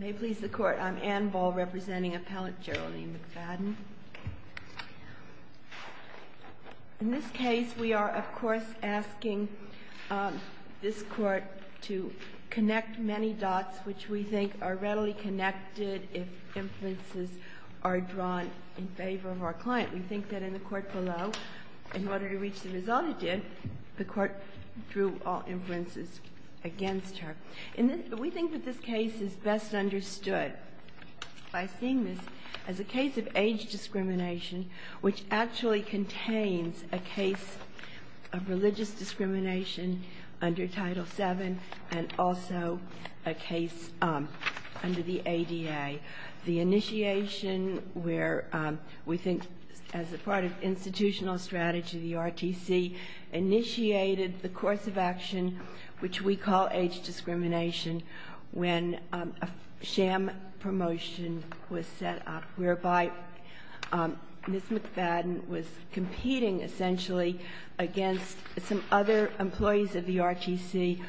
May it please the Court, I'm Anne Ball, representing Appellant Geraldine McFadden. In this case, we are, of course, asking this Court to connect many dots which we think are readily connected if inferences are drawn in favor of our client. We think that in the Court below, in order to reach the result it did, the Court drew all inferences against her. We think that this case is best understood by seeing this as a case of age discrimination which actually contains a case of religious discrimination under Title VII and also a case under the ADA. The initiation where we think as a part of institutional strategy, the RTC initiated the course of action which we call age discrimination when a sham promotion was set up, whereby Ms. McFadden was competing essentially against some other employees of the RTC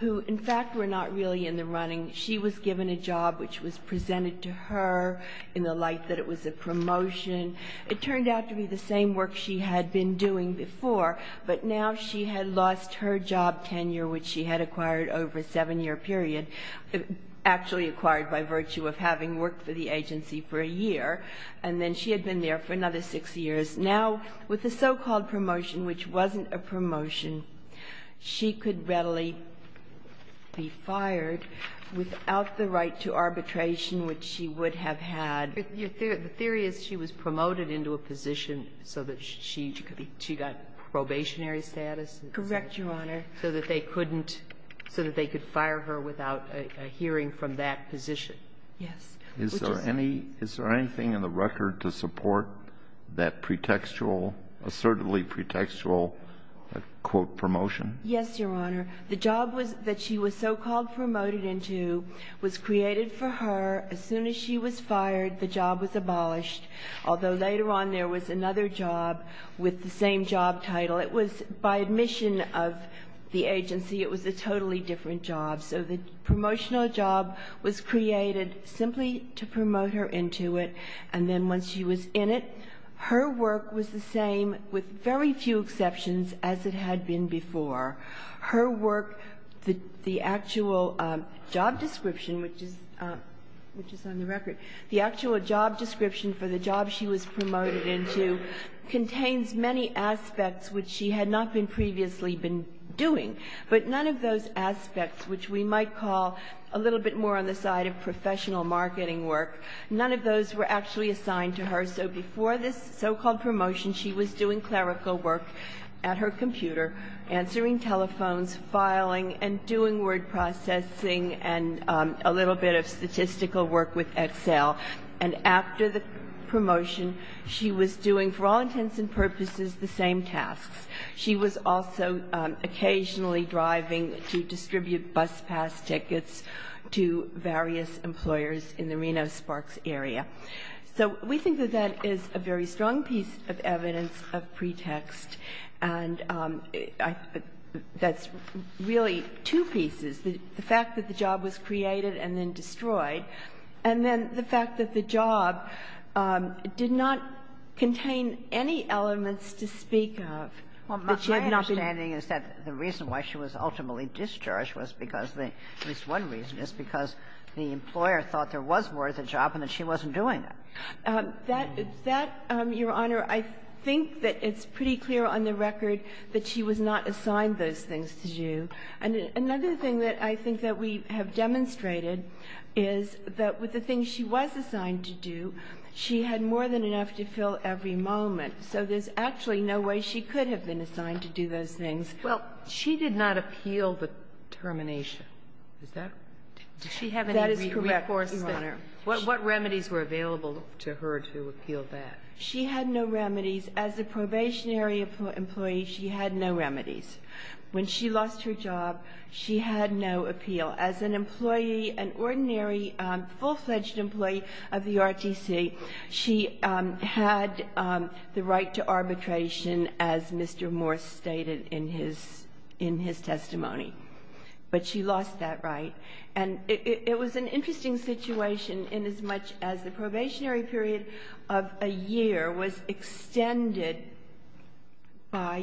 who, in fact, were not really in the running. She was given a job which was presented to her in the light that it was a promotion. It turned out to be the same work she had been doing before, but now she had lost her job tenure which she had acquired over a 7-year period, actually acquired by virtue of having worked for the agency for a year, and then she had been there for another 6 years. Now, with the so-called promotion, which wasn't a promotion, she could readily be fired without the right to arbitration which she would have had. The theory is she was promoted into a position so that she got probationary status and such. Correct, Your Honor. So that they couldn't so that they could fire her without a hearing from that position. Yes. Is there any, is there anything in the record to support that pretextual, assertively pretextual, quote, promotion? Yes, Your Honor. The job that she was so-called promoted into was created for her as soon as she was fired. The job was abolished, although later on there was another job with the same job title. It was, by admission of the agency, it was a totally different job. So the promotional job was created simply to promote her into it. And then once she was in it, her work was the same, with very few exceptions, as it had been before. Her work, the actual job description, which is on the record, the actual job description for the job she was promoted into contains many aspects which she had not been previously been doing. But none of those aspects, which we might call a little bit more on the side of professional marketing work, none of those were actually assigned to her. So before this so-called promotion, she was doing clerical work at her computer, answering telephones, filing, and doing word processing and a little bit of statistical work with Excel. And after the promotion, she was doing, for all intents and purposes, the same tasks. She was also occasionally driving to distribute bus pass tickets to various employers in the Reno-Sparks area. So we think that that is a very strong piece of evidence of pretext. And that's really two pieces, the fact that the job was created and then destroyed, and then the fact that the job did not contain any elements to speak of. That she had not been doing. Kagan. Ginsburg. My understanding is that the reason why she was ultimately discharged was because the at least one reason is because the employer thought there was more to the job and that she wasn't doing it. That, Your Honor, I think that it's pretty clear on the record that she was not assigned those things to do. And another thing that I think that we have demonstrated is that with the things she was assigned to do, she had more than enough to fill every moment. So there's actually no way she could have been assigned to do those things. Well, she did not appeal the termination. Is that? Did she have any recourse? That is correct, Your Honor. What remedies were available to her to appeal that? She had no remedies. As a probationary employee, she had no remedies. When she lost her job, she had no appeal. As an employee, an ordinary, full-fledged employee of the RTC, she had the right to arbitration, as Mr. Morse stated in his testimony. But she lost that right. And it was an interesting situation inasmuch as the probationary period of a year was extended by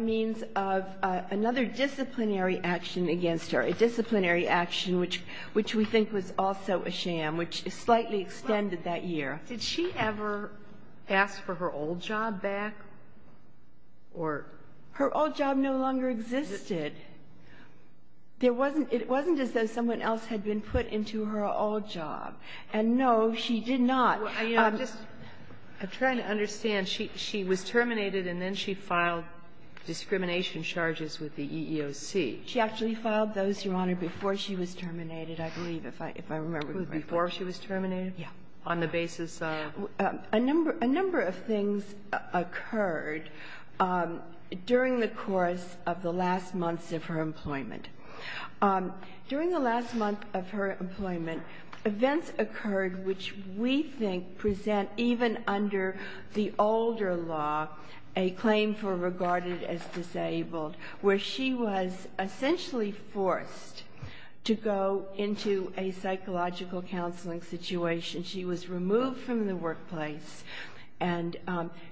means of another disciplinary action against her, a disciplinary action which we think was also a sham, which slightly extended that year. Did she ever ask for her old job back? Her old job no longer existed. It wasn't as though someone else had been put into her old job. And no, she did not. I'm trying to understand. She was terminated and then she filed discrimination charges with the EEOC. She actually filed those, Your Honor, before she was terminated, I believe, if I remember correctly. Before she was terminated? Yes. On the basis of? A number of things occurred during the course of the last months of her employment. During the last month of her employment, events occurred which we think present even under the older law a claim for regarded as disabled, where she was essentially forced to go into a psychological counseling situation. She was removed from the workplace, and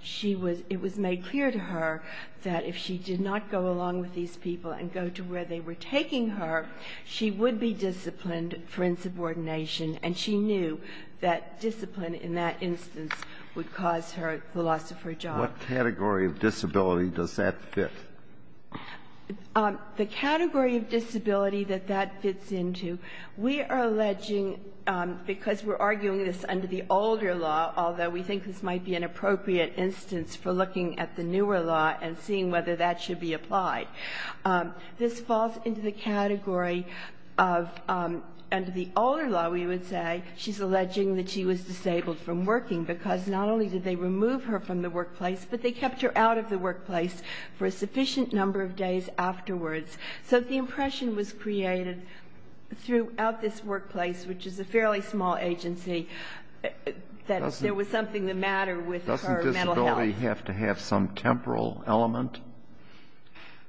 she was – it was made clear to her that if she did not go along with these people and go to where they were taking her, she would be disciplined for insubordination. And she knew that discipline in that instance would cause her the loss of her job. What category of disability does that fit? The category of disability that that fits into, we are alleging because we're arguing this under the older law, although we think this might be an appropriate instance for looking at the newer law and seeing whether that should be applied. This falls into the category of under the older law, we would say, she's alleging that she was disabled from working because not only did they remove her from the workplace, but they kept her out of the workplace for a sufficient number of days afterwards. So the impression was created throughout this workplace, which is a fairly small agency, that there was something the matter with her mental health. Doesn't disability have to have some temporal element?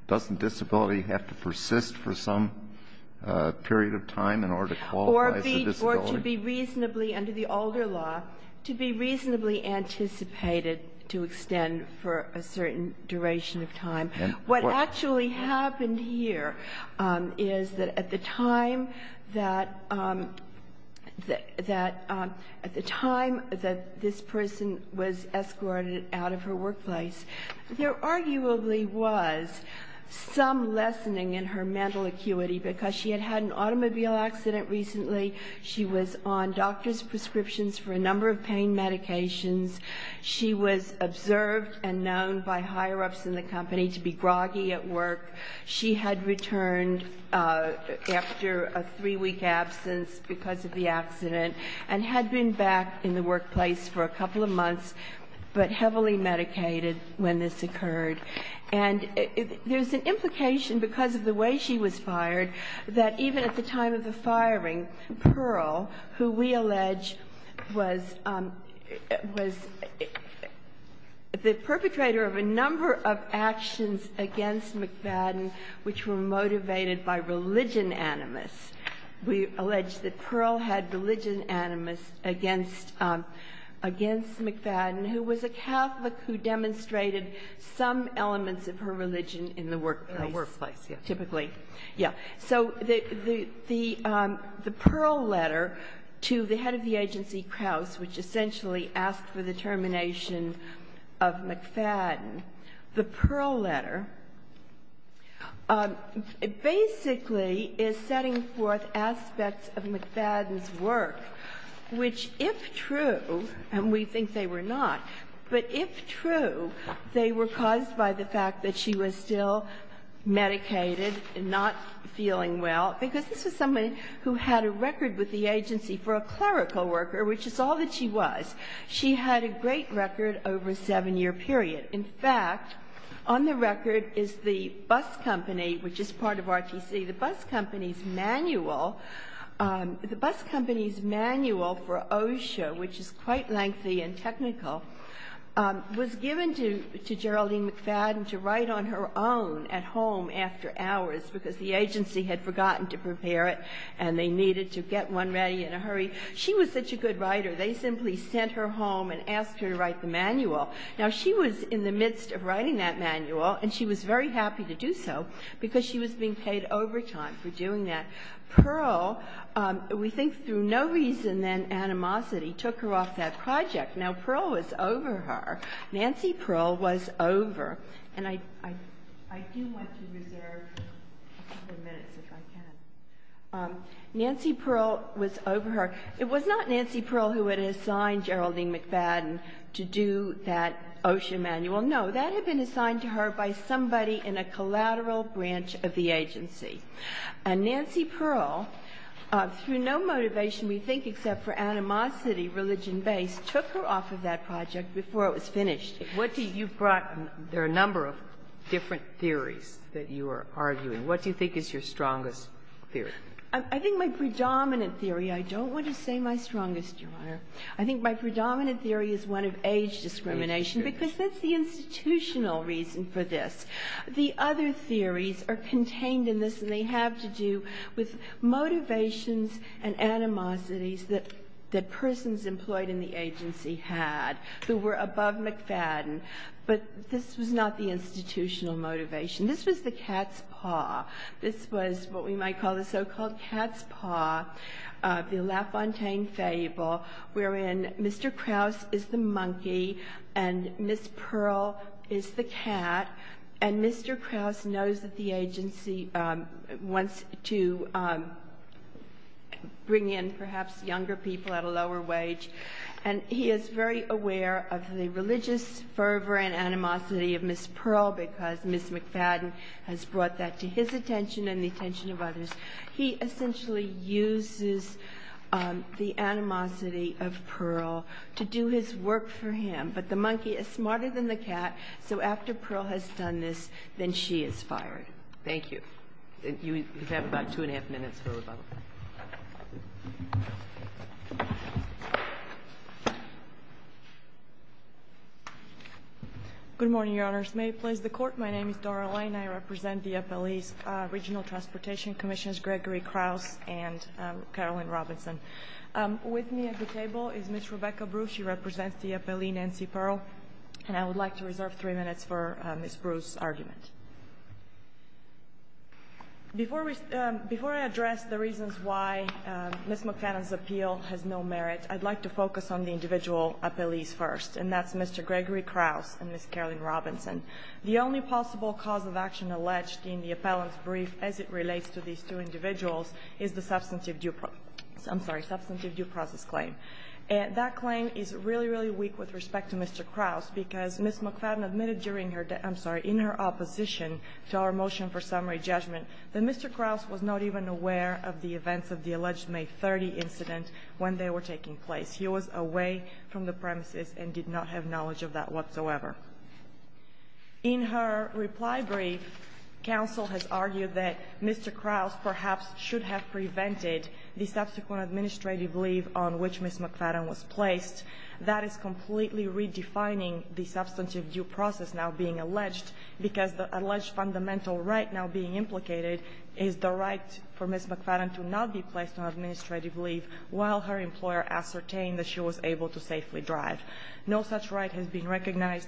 Doesn't disability have to persist for some period of time in order to qualify as a disability? Or to be reasonably, under the older law, to be reasonably anticipated to extend for a certain duration of time. What actually happened here is that at the time that, at the time that this person was escorted out of her workplace, there arguably was some lessening in her mental acuity because she had had an automobile accident recently. She was on doctor's prescriptions for a number of pain medications. She was observed and known by higher-ups in the company to be groggy at work. She had returned after a three-week absence because of the accident and had been back in the workplace for a couple of months, but heavily medicated when this occurred. And there's an implication because of the way she was fired that even at the time of the firing, Pearl, who we allege was the perpetrator of a number of actions against McFadden which were motivated by religion animus. We allege that Pearl had religion animus against McFadden, who was a Catholic who demonstrated some elements of her religion in the workplace, typically. Yeah. So the Pearl letter to the head of the agency, Krauss, which essentially asked for the termination of McFadden, the Pearl letter basically is setting forth aspects of McFadden's work which, if true, and we think they were not, but if true, they were caused by the fact that she was still medicated and not feeling well. Because this was somebody who had a record with the agency for a clerical worker, which is all that she was. She had a great record over a seven-year period. In fact, on the record is the bus company, which is part of RTC. The bus company's manual, the bus company's manual for OSHA, which is quite lengthy and technical, was given to Geraldine McFadden to write on her own at home after hours because the agency had forgotten to prepare it and they needed to get one ready in a hurry. She was such a good writer, they simply sent her home and asked her to write the manual. Now, she was in the midst of writing that manual and she was very happy to do so because she was being paid overtime for doing that. Pearl, we think through no reason then animosity, took her off that project. Now, Pearl was over her. Nancy Pearl was over. And I do want to reserve a couple of minutes if I can. Nancy Pearl was over her. It was not Nancy Pearl who had assigned Geraldine McFadden to do that OSHA manual. No, that had been assigned to her by somebody in a collateral branch of the agency. And Nancy Pearl, through no motivation, we think, except for animosity, religion based, took her off of that project before it was finished. What do you brought? There are a number of different theories that you are arguing. What do you think is your strongest theory? I think my predominant theory, I don't want to say my strongest, Your Honor. I think my predominant theory is one of age discrimination because that's the institutional reason for this. The other theories are contained in this and they have to do with motivations and animosities that persons employed in the agency had that were above McFadden. But this was not the institutional motivation. This was the cat's paw. This was what we might call the so-called cat's paw, the LaFontaine fable, wherein Mr. Krause is the monkey and Ms. Pearl is the cat, and Mr. Krause knows that the agency wants to bring in perhaps younger people at a lower wage, and he is very aware of the religious fervor and animosity of Ms. Pearl because Ms. McFadden has brought that to his attention and the attention of others. He essentially uses the animosity of Pearl to do his work for him, but the monkey is smarter than the cat, so after Pearl has done this, then she is fired. Thank you. You have about two and a half minutes for rebuttal. Good morning, Your Honors. May it please the Court, my name is Dora Lane. I represent the appellees, Regional Transportation Commission's Gregory Krause and Carolyn Robinson. With me at the table is Ms. Rebecca Bruce. She represents the appellee Nancy Pearl, and I would like to reserve three minutes for Ms. Bruce's argument. Before I address the reasons why Ms. McFadden's appeal has no merit, I'd like to focus on the individual appellees first, and that's Mr. Gregory Krause and Ms. Carolyn Robinson. The only possible cause of action alleged in the appellant's brief as it relates to these two individuals is the substantive due process claim. That claim is really, really weak with respect to Mr. Krause because Ms. McFadden admitted in her opposition to our motion for summary judgment that Mr. Krause was not even aware of the events of the alleged May 30 incident when they were taking place. He was away from the premises and did not have knowledge of that whatsoever. In her reply brief, counsel has argued that Mr. Krause perhaps should have prevented the subsequent administrative leave on which Ms. McFadden was placed. That is completely redefining the substantive due process now being alleged because the alleged fundamental right now being implicated is the right for Ms. McFadden to not be placed on administrative leave while her employer ascertained that she was able to safely drive. No such right has been recognized,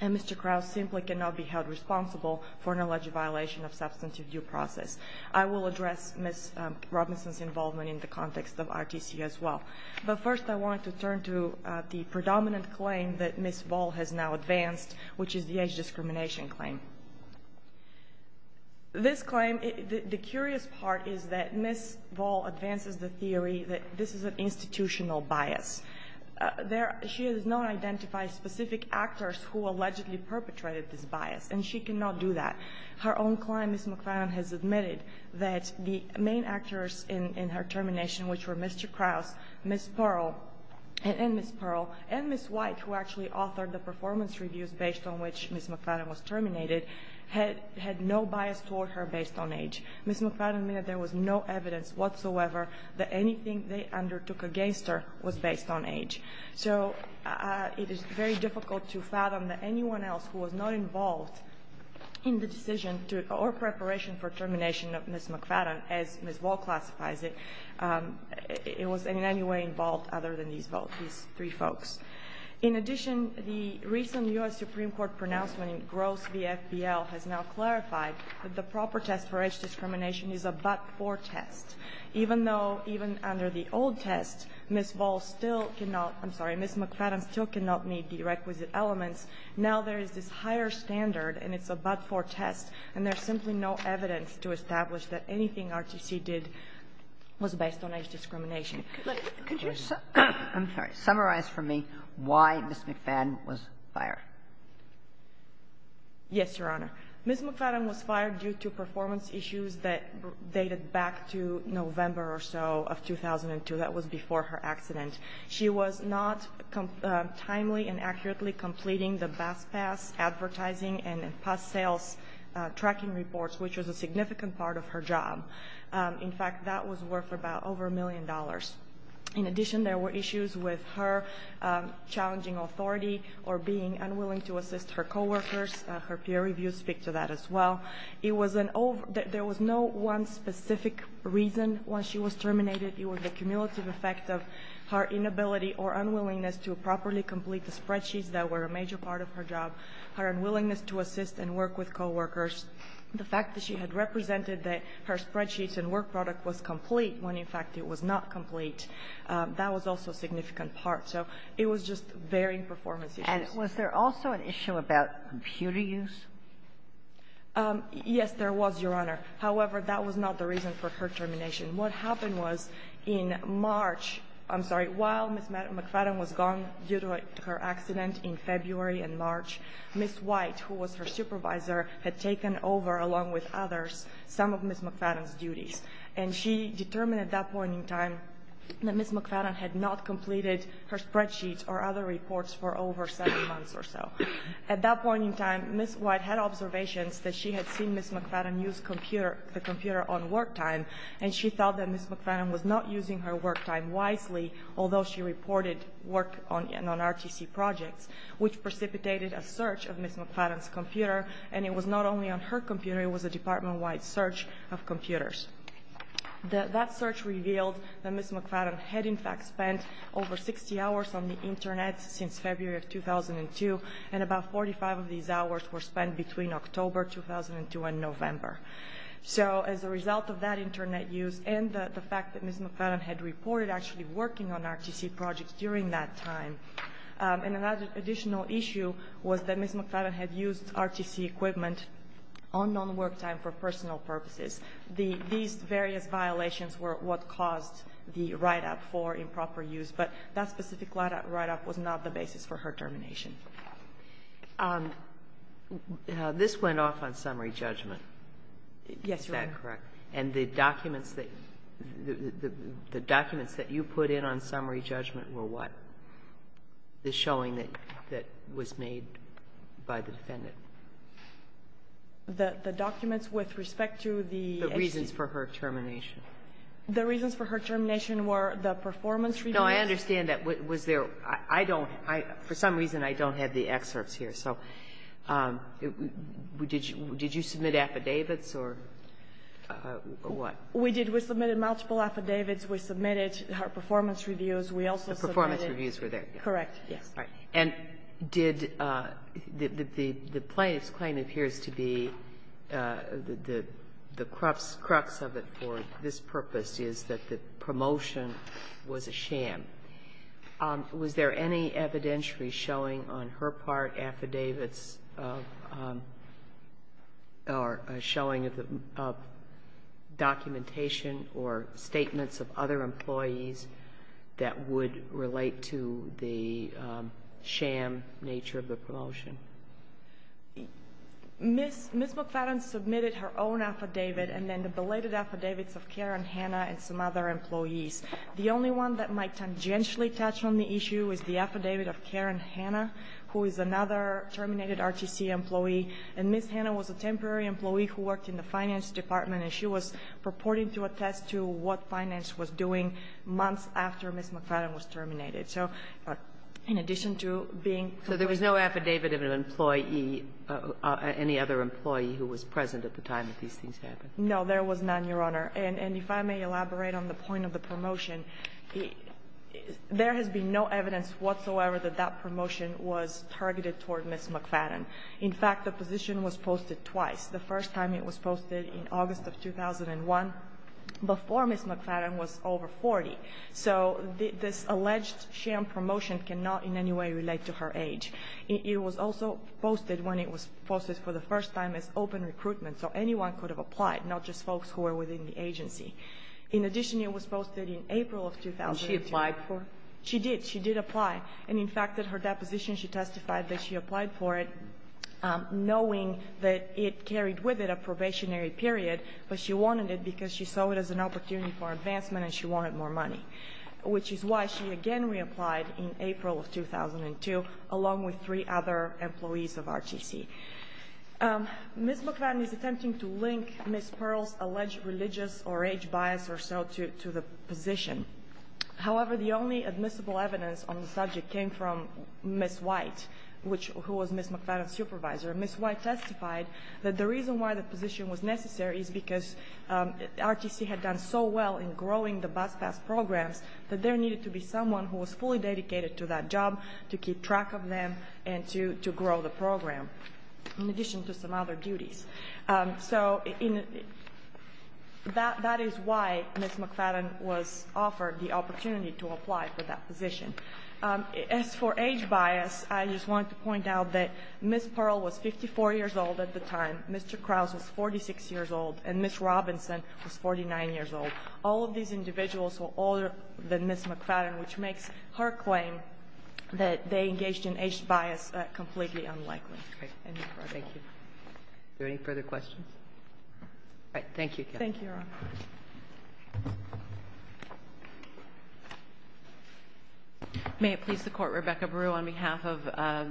and Mr. Krause simply cannot be held responsible for an alleged violation of substantive due process. I will address Ms. Robinson's involvement in the context of RTC as well. But first I want to turn to the predominant claim that Ms. Voll has now advanced, which is the age discrimination claim. This claim, the curious part is that Ms. Voll advances the theory that this is an institutional bias. She has not identified specific actors who allegedly perpetrated this bias, and she cannot do that. Her own client, Ms. McFadden, has admitted that the main actors in her termination, which were Mr. Krause, Ms. Pearl, and Ms. White, who actually authored the performance reviews based on which Ms. McFadden was terminated, had no bias toward her based on age. Ms. McFadden admitted there was no evidence whatsoever that anything they undertook against her was based on age. So it is very difficult to fathom that anyone else who was not involved in the decision or preparation for termination of Ms. McFadden, as Ms. Voll classifies it, was in any way involved other than these three folks. In addition, the recent U.S. Supreme Court pronouncement in Gross v. FBL has now clarified that the proper test for age discrimination is a but-for test. Even though, even under the old test, Ms. Voll still cannot – I'm sorry, Ms. McFadden still cannot meet the requisite elements. Now there is this higher standard, and it's a but-for test, and there's simply no evidence to establish that anything RTC did was based on age discrimination. Kagan. Kagan. I'm sorry. Summarize for me why Ms. McFadden was fired. Yes, Your Honor. Ms. McFadden was fired due to performance issues that dated back to November or so of 2002. That was before her accident. She was not timely and accurately completing the Bass Pass advertising and past sales tracking reports, which was a significant part of her job. In fact, that was worth about over a million dollars. In addition, there were issues with her challenging authority or being unwilling to assist her coworkers. Her peer reviews speak to that as well. There was no one specific reason why she was terminated. It was the cumulative effect of her inability or unwillingness to properly complete the spreadsheets that were a major part of her job, her unwillingness to assist and work with coworkers. The fact that she had represented that her spreadsheets and work product was complete when, in fact, it was not complete, that was also a significant part. So it was just varying performance issues. And was there also an issue about computer use? Yes, there was, Your Honor. However, that was not the reason for her termination. What happened was, in March — I'm sorry, while Ms. McFadden was gone due to her accident in February and March, Ms. White, who was her supervisor, had taken over, along with others, some of Ms. McFadden's duties. And she determined at that point in time that Ms. McFadden had not completed her spreadsheets or other reports for over seven months or so. At that point in time, Ms. White had observations that she had seen Ms. McFadden use the computer on work time, and she felt that Ms. McFadden was not using her work time wisely, although she reported work on RTC projects, which precipitated a search of Ms. McFadden's computer. And it was not only on her computer, it was a department-wide search of computers. That search revealed that Ms. McFadden had, in fact, spent over 60 hours on the Internet since February of 2002, and about 45 of these hours were spent between October 2002 and November. So, as a result of that Internet use and the fact that Ms. McFadden had reported actually working on RTC projects during that time, an additional issue was that Ms. McFadden had used RTC equipment on non-work time for personal purposes. These various violations were what caused the write-up for improper use, but that specific write-up was not the basis for her termination. This went off on summary judgment. Yes, Your Honor. Is that correct? And the documents that you put in on summary judgment were what? The showing that was made by the defendant. The documents with respect to the HC. The reasons for her termination. The reasons for her termination were the performance reviews. No, I understand that. Was there – I don't – for some reason, I don't have the excerpts here. So, did you submit affidavits or what? We did. We submitted multiple affidavits. We submitted her performance reviews. We also submitted – The performance reviews were there. Correct, yes. And did – the plaintiff's claim appears to be the crux of it for this purpose is that the promotion was a sham. Was there any evidentiary showing on her part affidavits or showing of documentation or statements of other employees that would relate to the sham nature of the promotion? Ms. McFadden submitted her own affidavit and then the belated affidavits of Karen Hanna and some other employees. The only one that might tangentially touch on the issue is the affidavit of Karen Hanna, who is another terminated RTC employee. And Ms. Hanna was a temporary employee who worked in the finance department and she was purporting to attest to what finance was doing months after Ms. McFadden was terminated. So in addition to being – So there was no affidavit of an employee, any other employee who was present at the time that these things happened? No, there was none, Your Honor. And if I may elaborate on the point of the promotion, there has been no evidence whatsoever that that promotion was targeted toward Ms. McFadden. In fact, the position was posted twice. The first time it was posted in August of 2001, before Ms. McFadden was over 40. So this alleged sham promotion cannot in any way relate to her age. It was also posted when it was posted for the first time as open recruitment, so anyone could have applied, not just folks who were within the agency. In addition, it was posted in April of 2002. And she applied for it? She did. She did apply. And in fact, in her deposition, she testified that she applied for it knowing that it carried with it a probationary period, but she wanted it because she saw it as an opportunity for advancement and she wanted more money, which is why she again reapplied in April of 2002, along with three other employees of RTC. Ms. McFadden is attempting to link Ms. Pearl's alleged religious or age bias or so to the position. However, the only admissible evidence on the subject came from Ms. White, who was Ms. McFadden's supervisor. Ms. White testified that the reason why the position was necessary is because RTC had done so well in growing the bus pass programs that there needed to be someone who was fully dedicated to that job to keep track of them and to grow the program, in addition to some other duties. So that is why Ms. McFadden was offered the opportunity to apply for that position. As for age bias, I just want to point out that Ms. Pearl was 54 years old at the time, Mr. Krause was 46 years old, and Ms. Robinson was 49 years old. All of these individuals were older than Ms. McFadden, which makes her claim that they engaged in age bias completely unlikely. Okay. Thank you. Are there any further questions? All right. Thank you. Thank you, Your Honor. May it please the Court. Rebecca Brewer on behalf of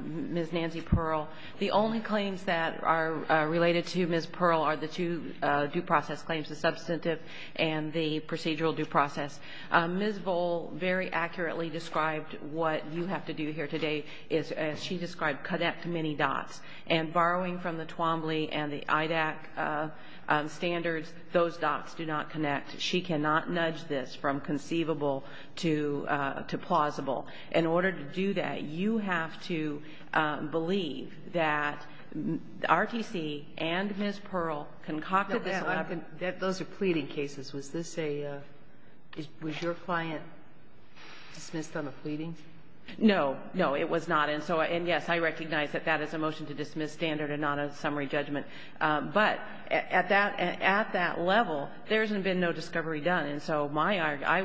Ms. Nancy Pearl. The only claims that are related to Ms. Pearl are the two due process claims, the substantive and the procedural due process. Ms. Vole very accurately described what you have to do here today is, as she described, connect many dots. And borrowing from the Twombly and the IDAC standards, those dots do not connect. She cannot nudge this from conceivable to plausible. In order to do that, you have to believe that RTC and Ms. Pearl concocted this. Those are pleading cases. Was your client dismissed on a pleading? No. No, it was not. And, yes, I recognize that that is a motion to dismiss standard and not a summary judgment. But at that level, there has been no discovery done. And so I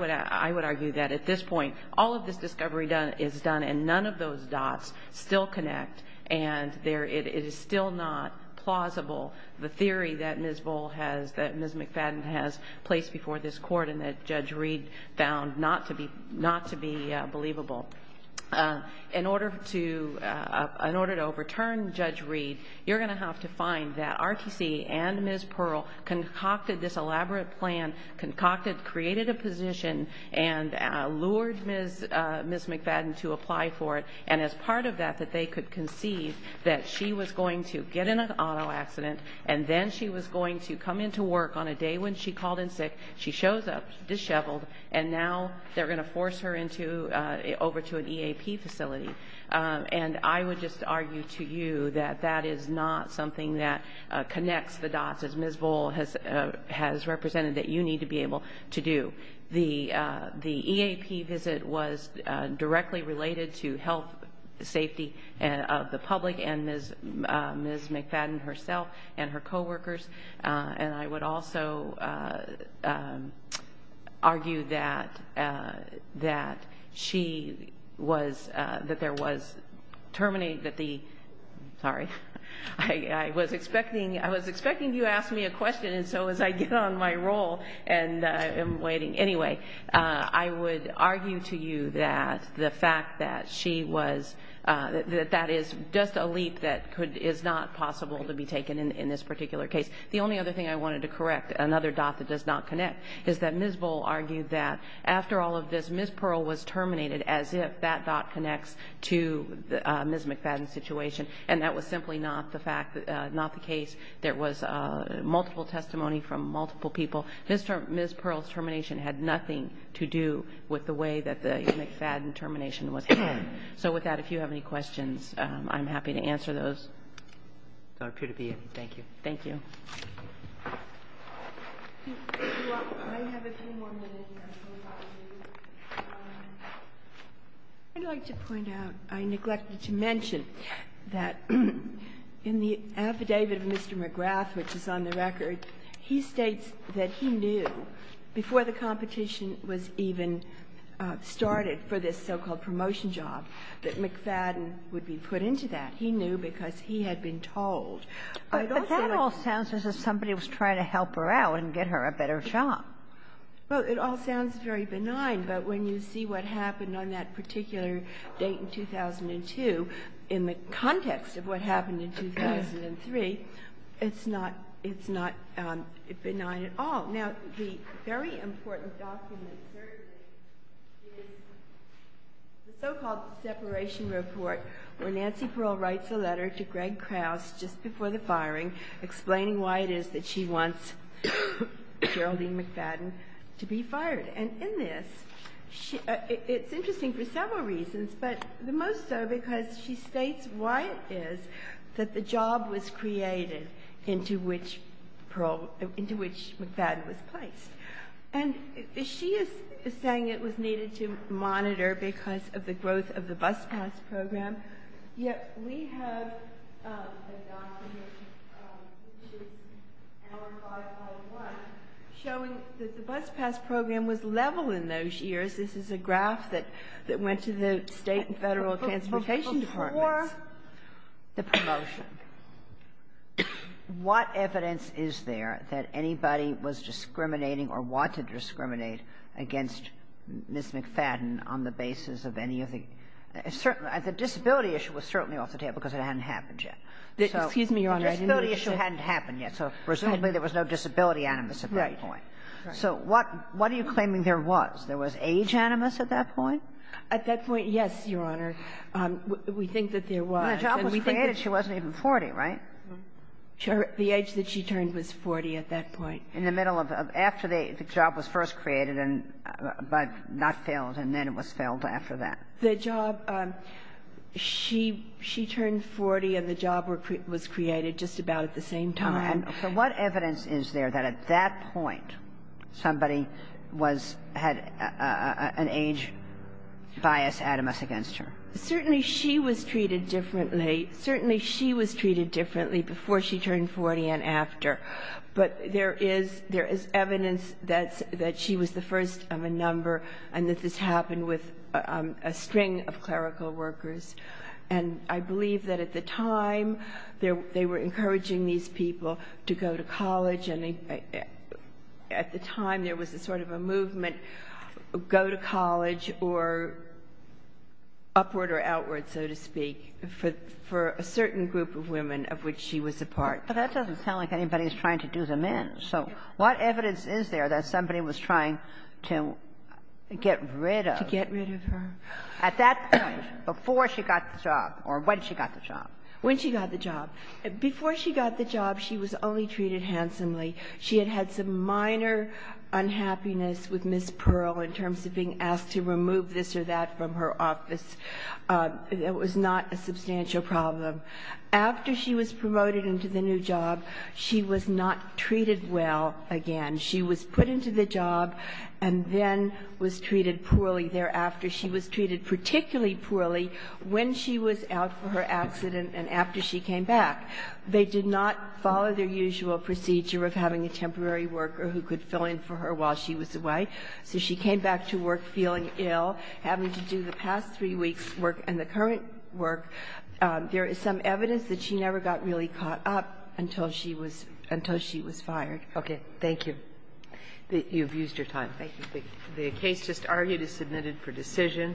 would argue that at this point, all of this discovery is done and none of those dots still connect. And it is still not plausible. The theory that Ms. McFadden has placed before this Court and that Judge Reed found not to be believable. In order to overturn Judge Reed, you're going to have to find that RTC and Ms. Pearl concocted this elaborate plan, concocted, created a position, and lured Ms. McFadden to apply for it. And as part of that, that they could conceive that she was going to get in an auto accident and then she was going to come into work on a day when she called in sick, she shows up disheveled, and now they're going to force her over to an EAP facility. And I would just argue to you that that is not something that connects the dots, as Ms. Bohl has represented, that you need to be able to do. The EAP visit was directly related to health, safety of the public and Ms. McFadden herself and her coworkers. And I would also argue that she was, that there was terminating, that the, sorry, I was expecting you to ask me a question and so as I get on my roll, and I'm waiting, anyway, I would argue to you that the fact that she was, that that is just a leap that could, is not possible to be taken in this particular case. The only other thing I wanted to correct, another dot that does not connect, is that Ms. Bohl argued that after all of this, Ms. Pearl was terminated as if that dot connects to Ms. McFadden's situation. And that was simply not the fact, not the case. There was multiple testimony from multiple people. Ms. Pearl's termination had nothing to do with the way that the McFadden termination was done. So with that, if you have any questions, I'm happy to answer those. I appear to be in. Thank you. Thank you. I'd like to point out, I neglected to mention, that in the affidavit of Mr. McGrath, which is on the record, he states that he knew, before the competition was even started for this so-called promotion job, that McFadden would be put into that. He knew because he had been told. But that all sounds as if somebody was trying to help her out and get her a better job. Well, it all sounds very benign. But when you see what happened on that particular date in 2002, in the context of what happened in 2003, it's not, it's not benign at all. Now, the very important document, certainly, is the so-called separation report, where Nancy Pearl writes a letter to Greg Krause just before the firing, explaining why it is that she wants Geraldine McFadden to be fired. And in this, it's interesting for several reasons, but the most so because she states why it is that the job was created into which Pearl, into which McFadden was placed. And she is saying it was needed to monitor because of the growth of the bus pass program. Yet we have a document, which is Hour 5.1, showing that the bus pass program was level in those years. This is a graph that went to the state and federal transportation departments. The promotion. What evidence is there that anybody was discriminating or wanted to discriminate against Ms. McFadden on the basis of any of the — the disability issue was certainly off the table because it hadn't happened yet. So the disability issue hadn't happened yet. So presumably there was no disability animus at that point. So what are you claiming there was? There was age animus at that point? At that point, yes, Your Honor. We think that there was. When the job was created, she wasn't even 40, right? Sure. The age that she turned was 40 at that point. In the middle of — after the job was first created, but not failed, and then it was failed after that. The job — she turned 40 and the job was created just about at the same time. So what evidence is there that at that point somebody was — had an age bias animus against her? Certainly she was treated differently. Certainly she was treated differently before she turned 40 and after. But there is evidence that she was the first of a number and that this happened with a string of clerical workers. And I believe that at the time they were encouraging these people to go to college, and at the time there was a sort of a movement, go to college or upward or outward, so to speak, for a certain group of women of which she was a part. But that doesn't sound like anybody's trying to do them in. So what evidence is there that somebody was trying to get rid of? To get rid of her. At that point, before she got the job, or when she got the job? When she got the job. Before she got the job, she was only treated handsomely. She had had some minor unhappiness with Ms. Pearl in terms of being asked to remove this or that from her office. It was not a substantial problem. After she was promoted into the new job, she was not treated well again. She was put into the job and then was treated poorly thereafter. She was treated particularly poorly when she was out for her accident and after she came back. They did not follow their usual procedure of having a temporary worker who could fill in for her while she was away. So she came back to work feeling ill, having to do the past three weeks' work and the current work. There is some evidence that she never got really caught up until she was fired. Okay. Thank you. You've used your time. Thank you. The case just argued is submitted for decision.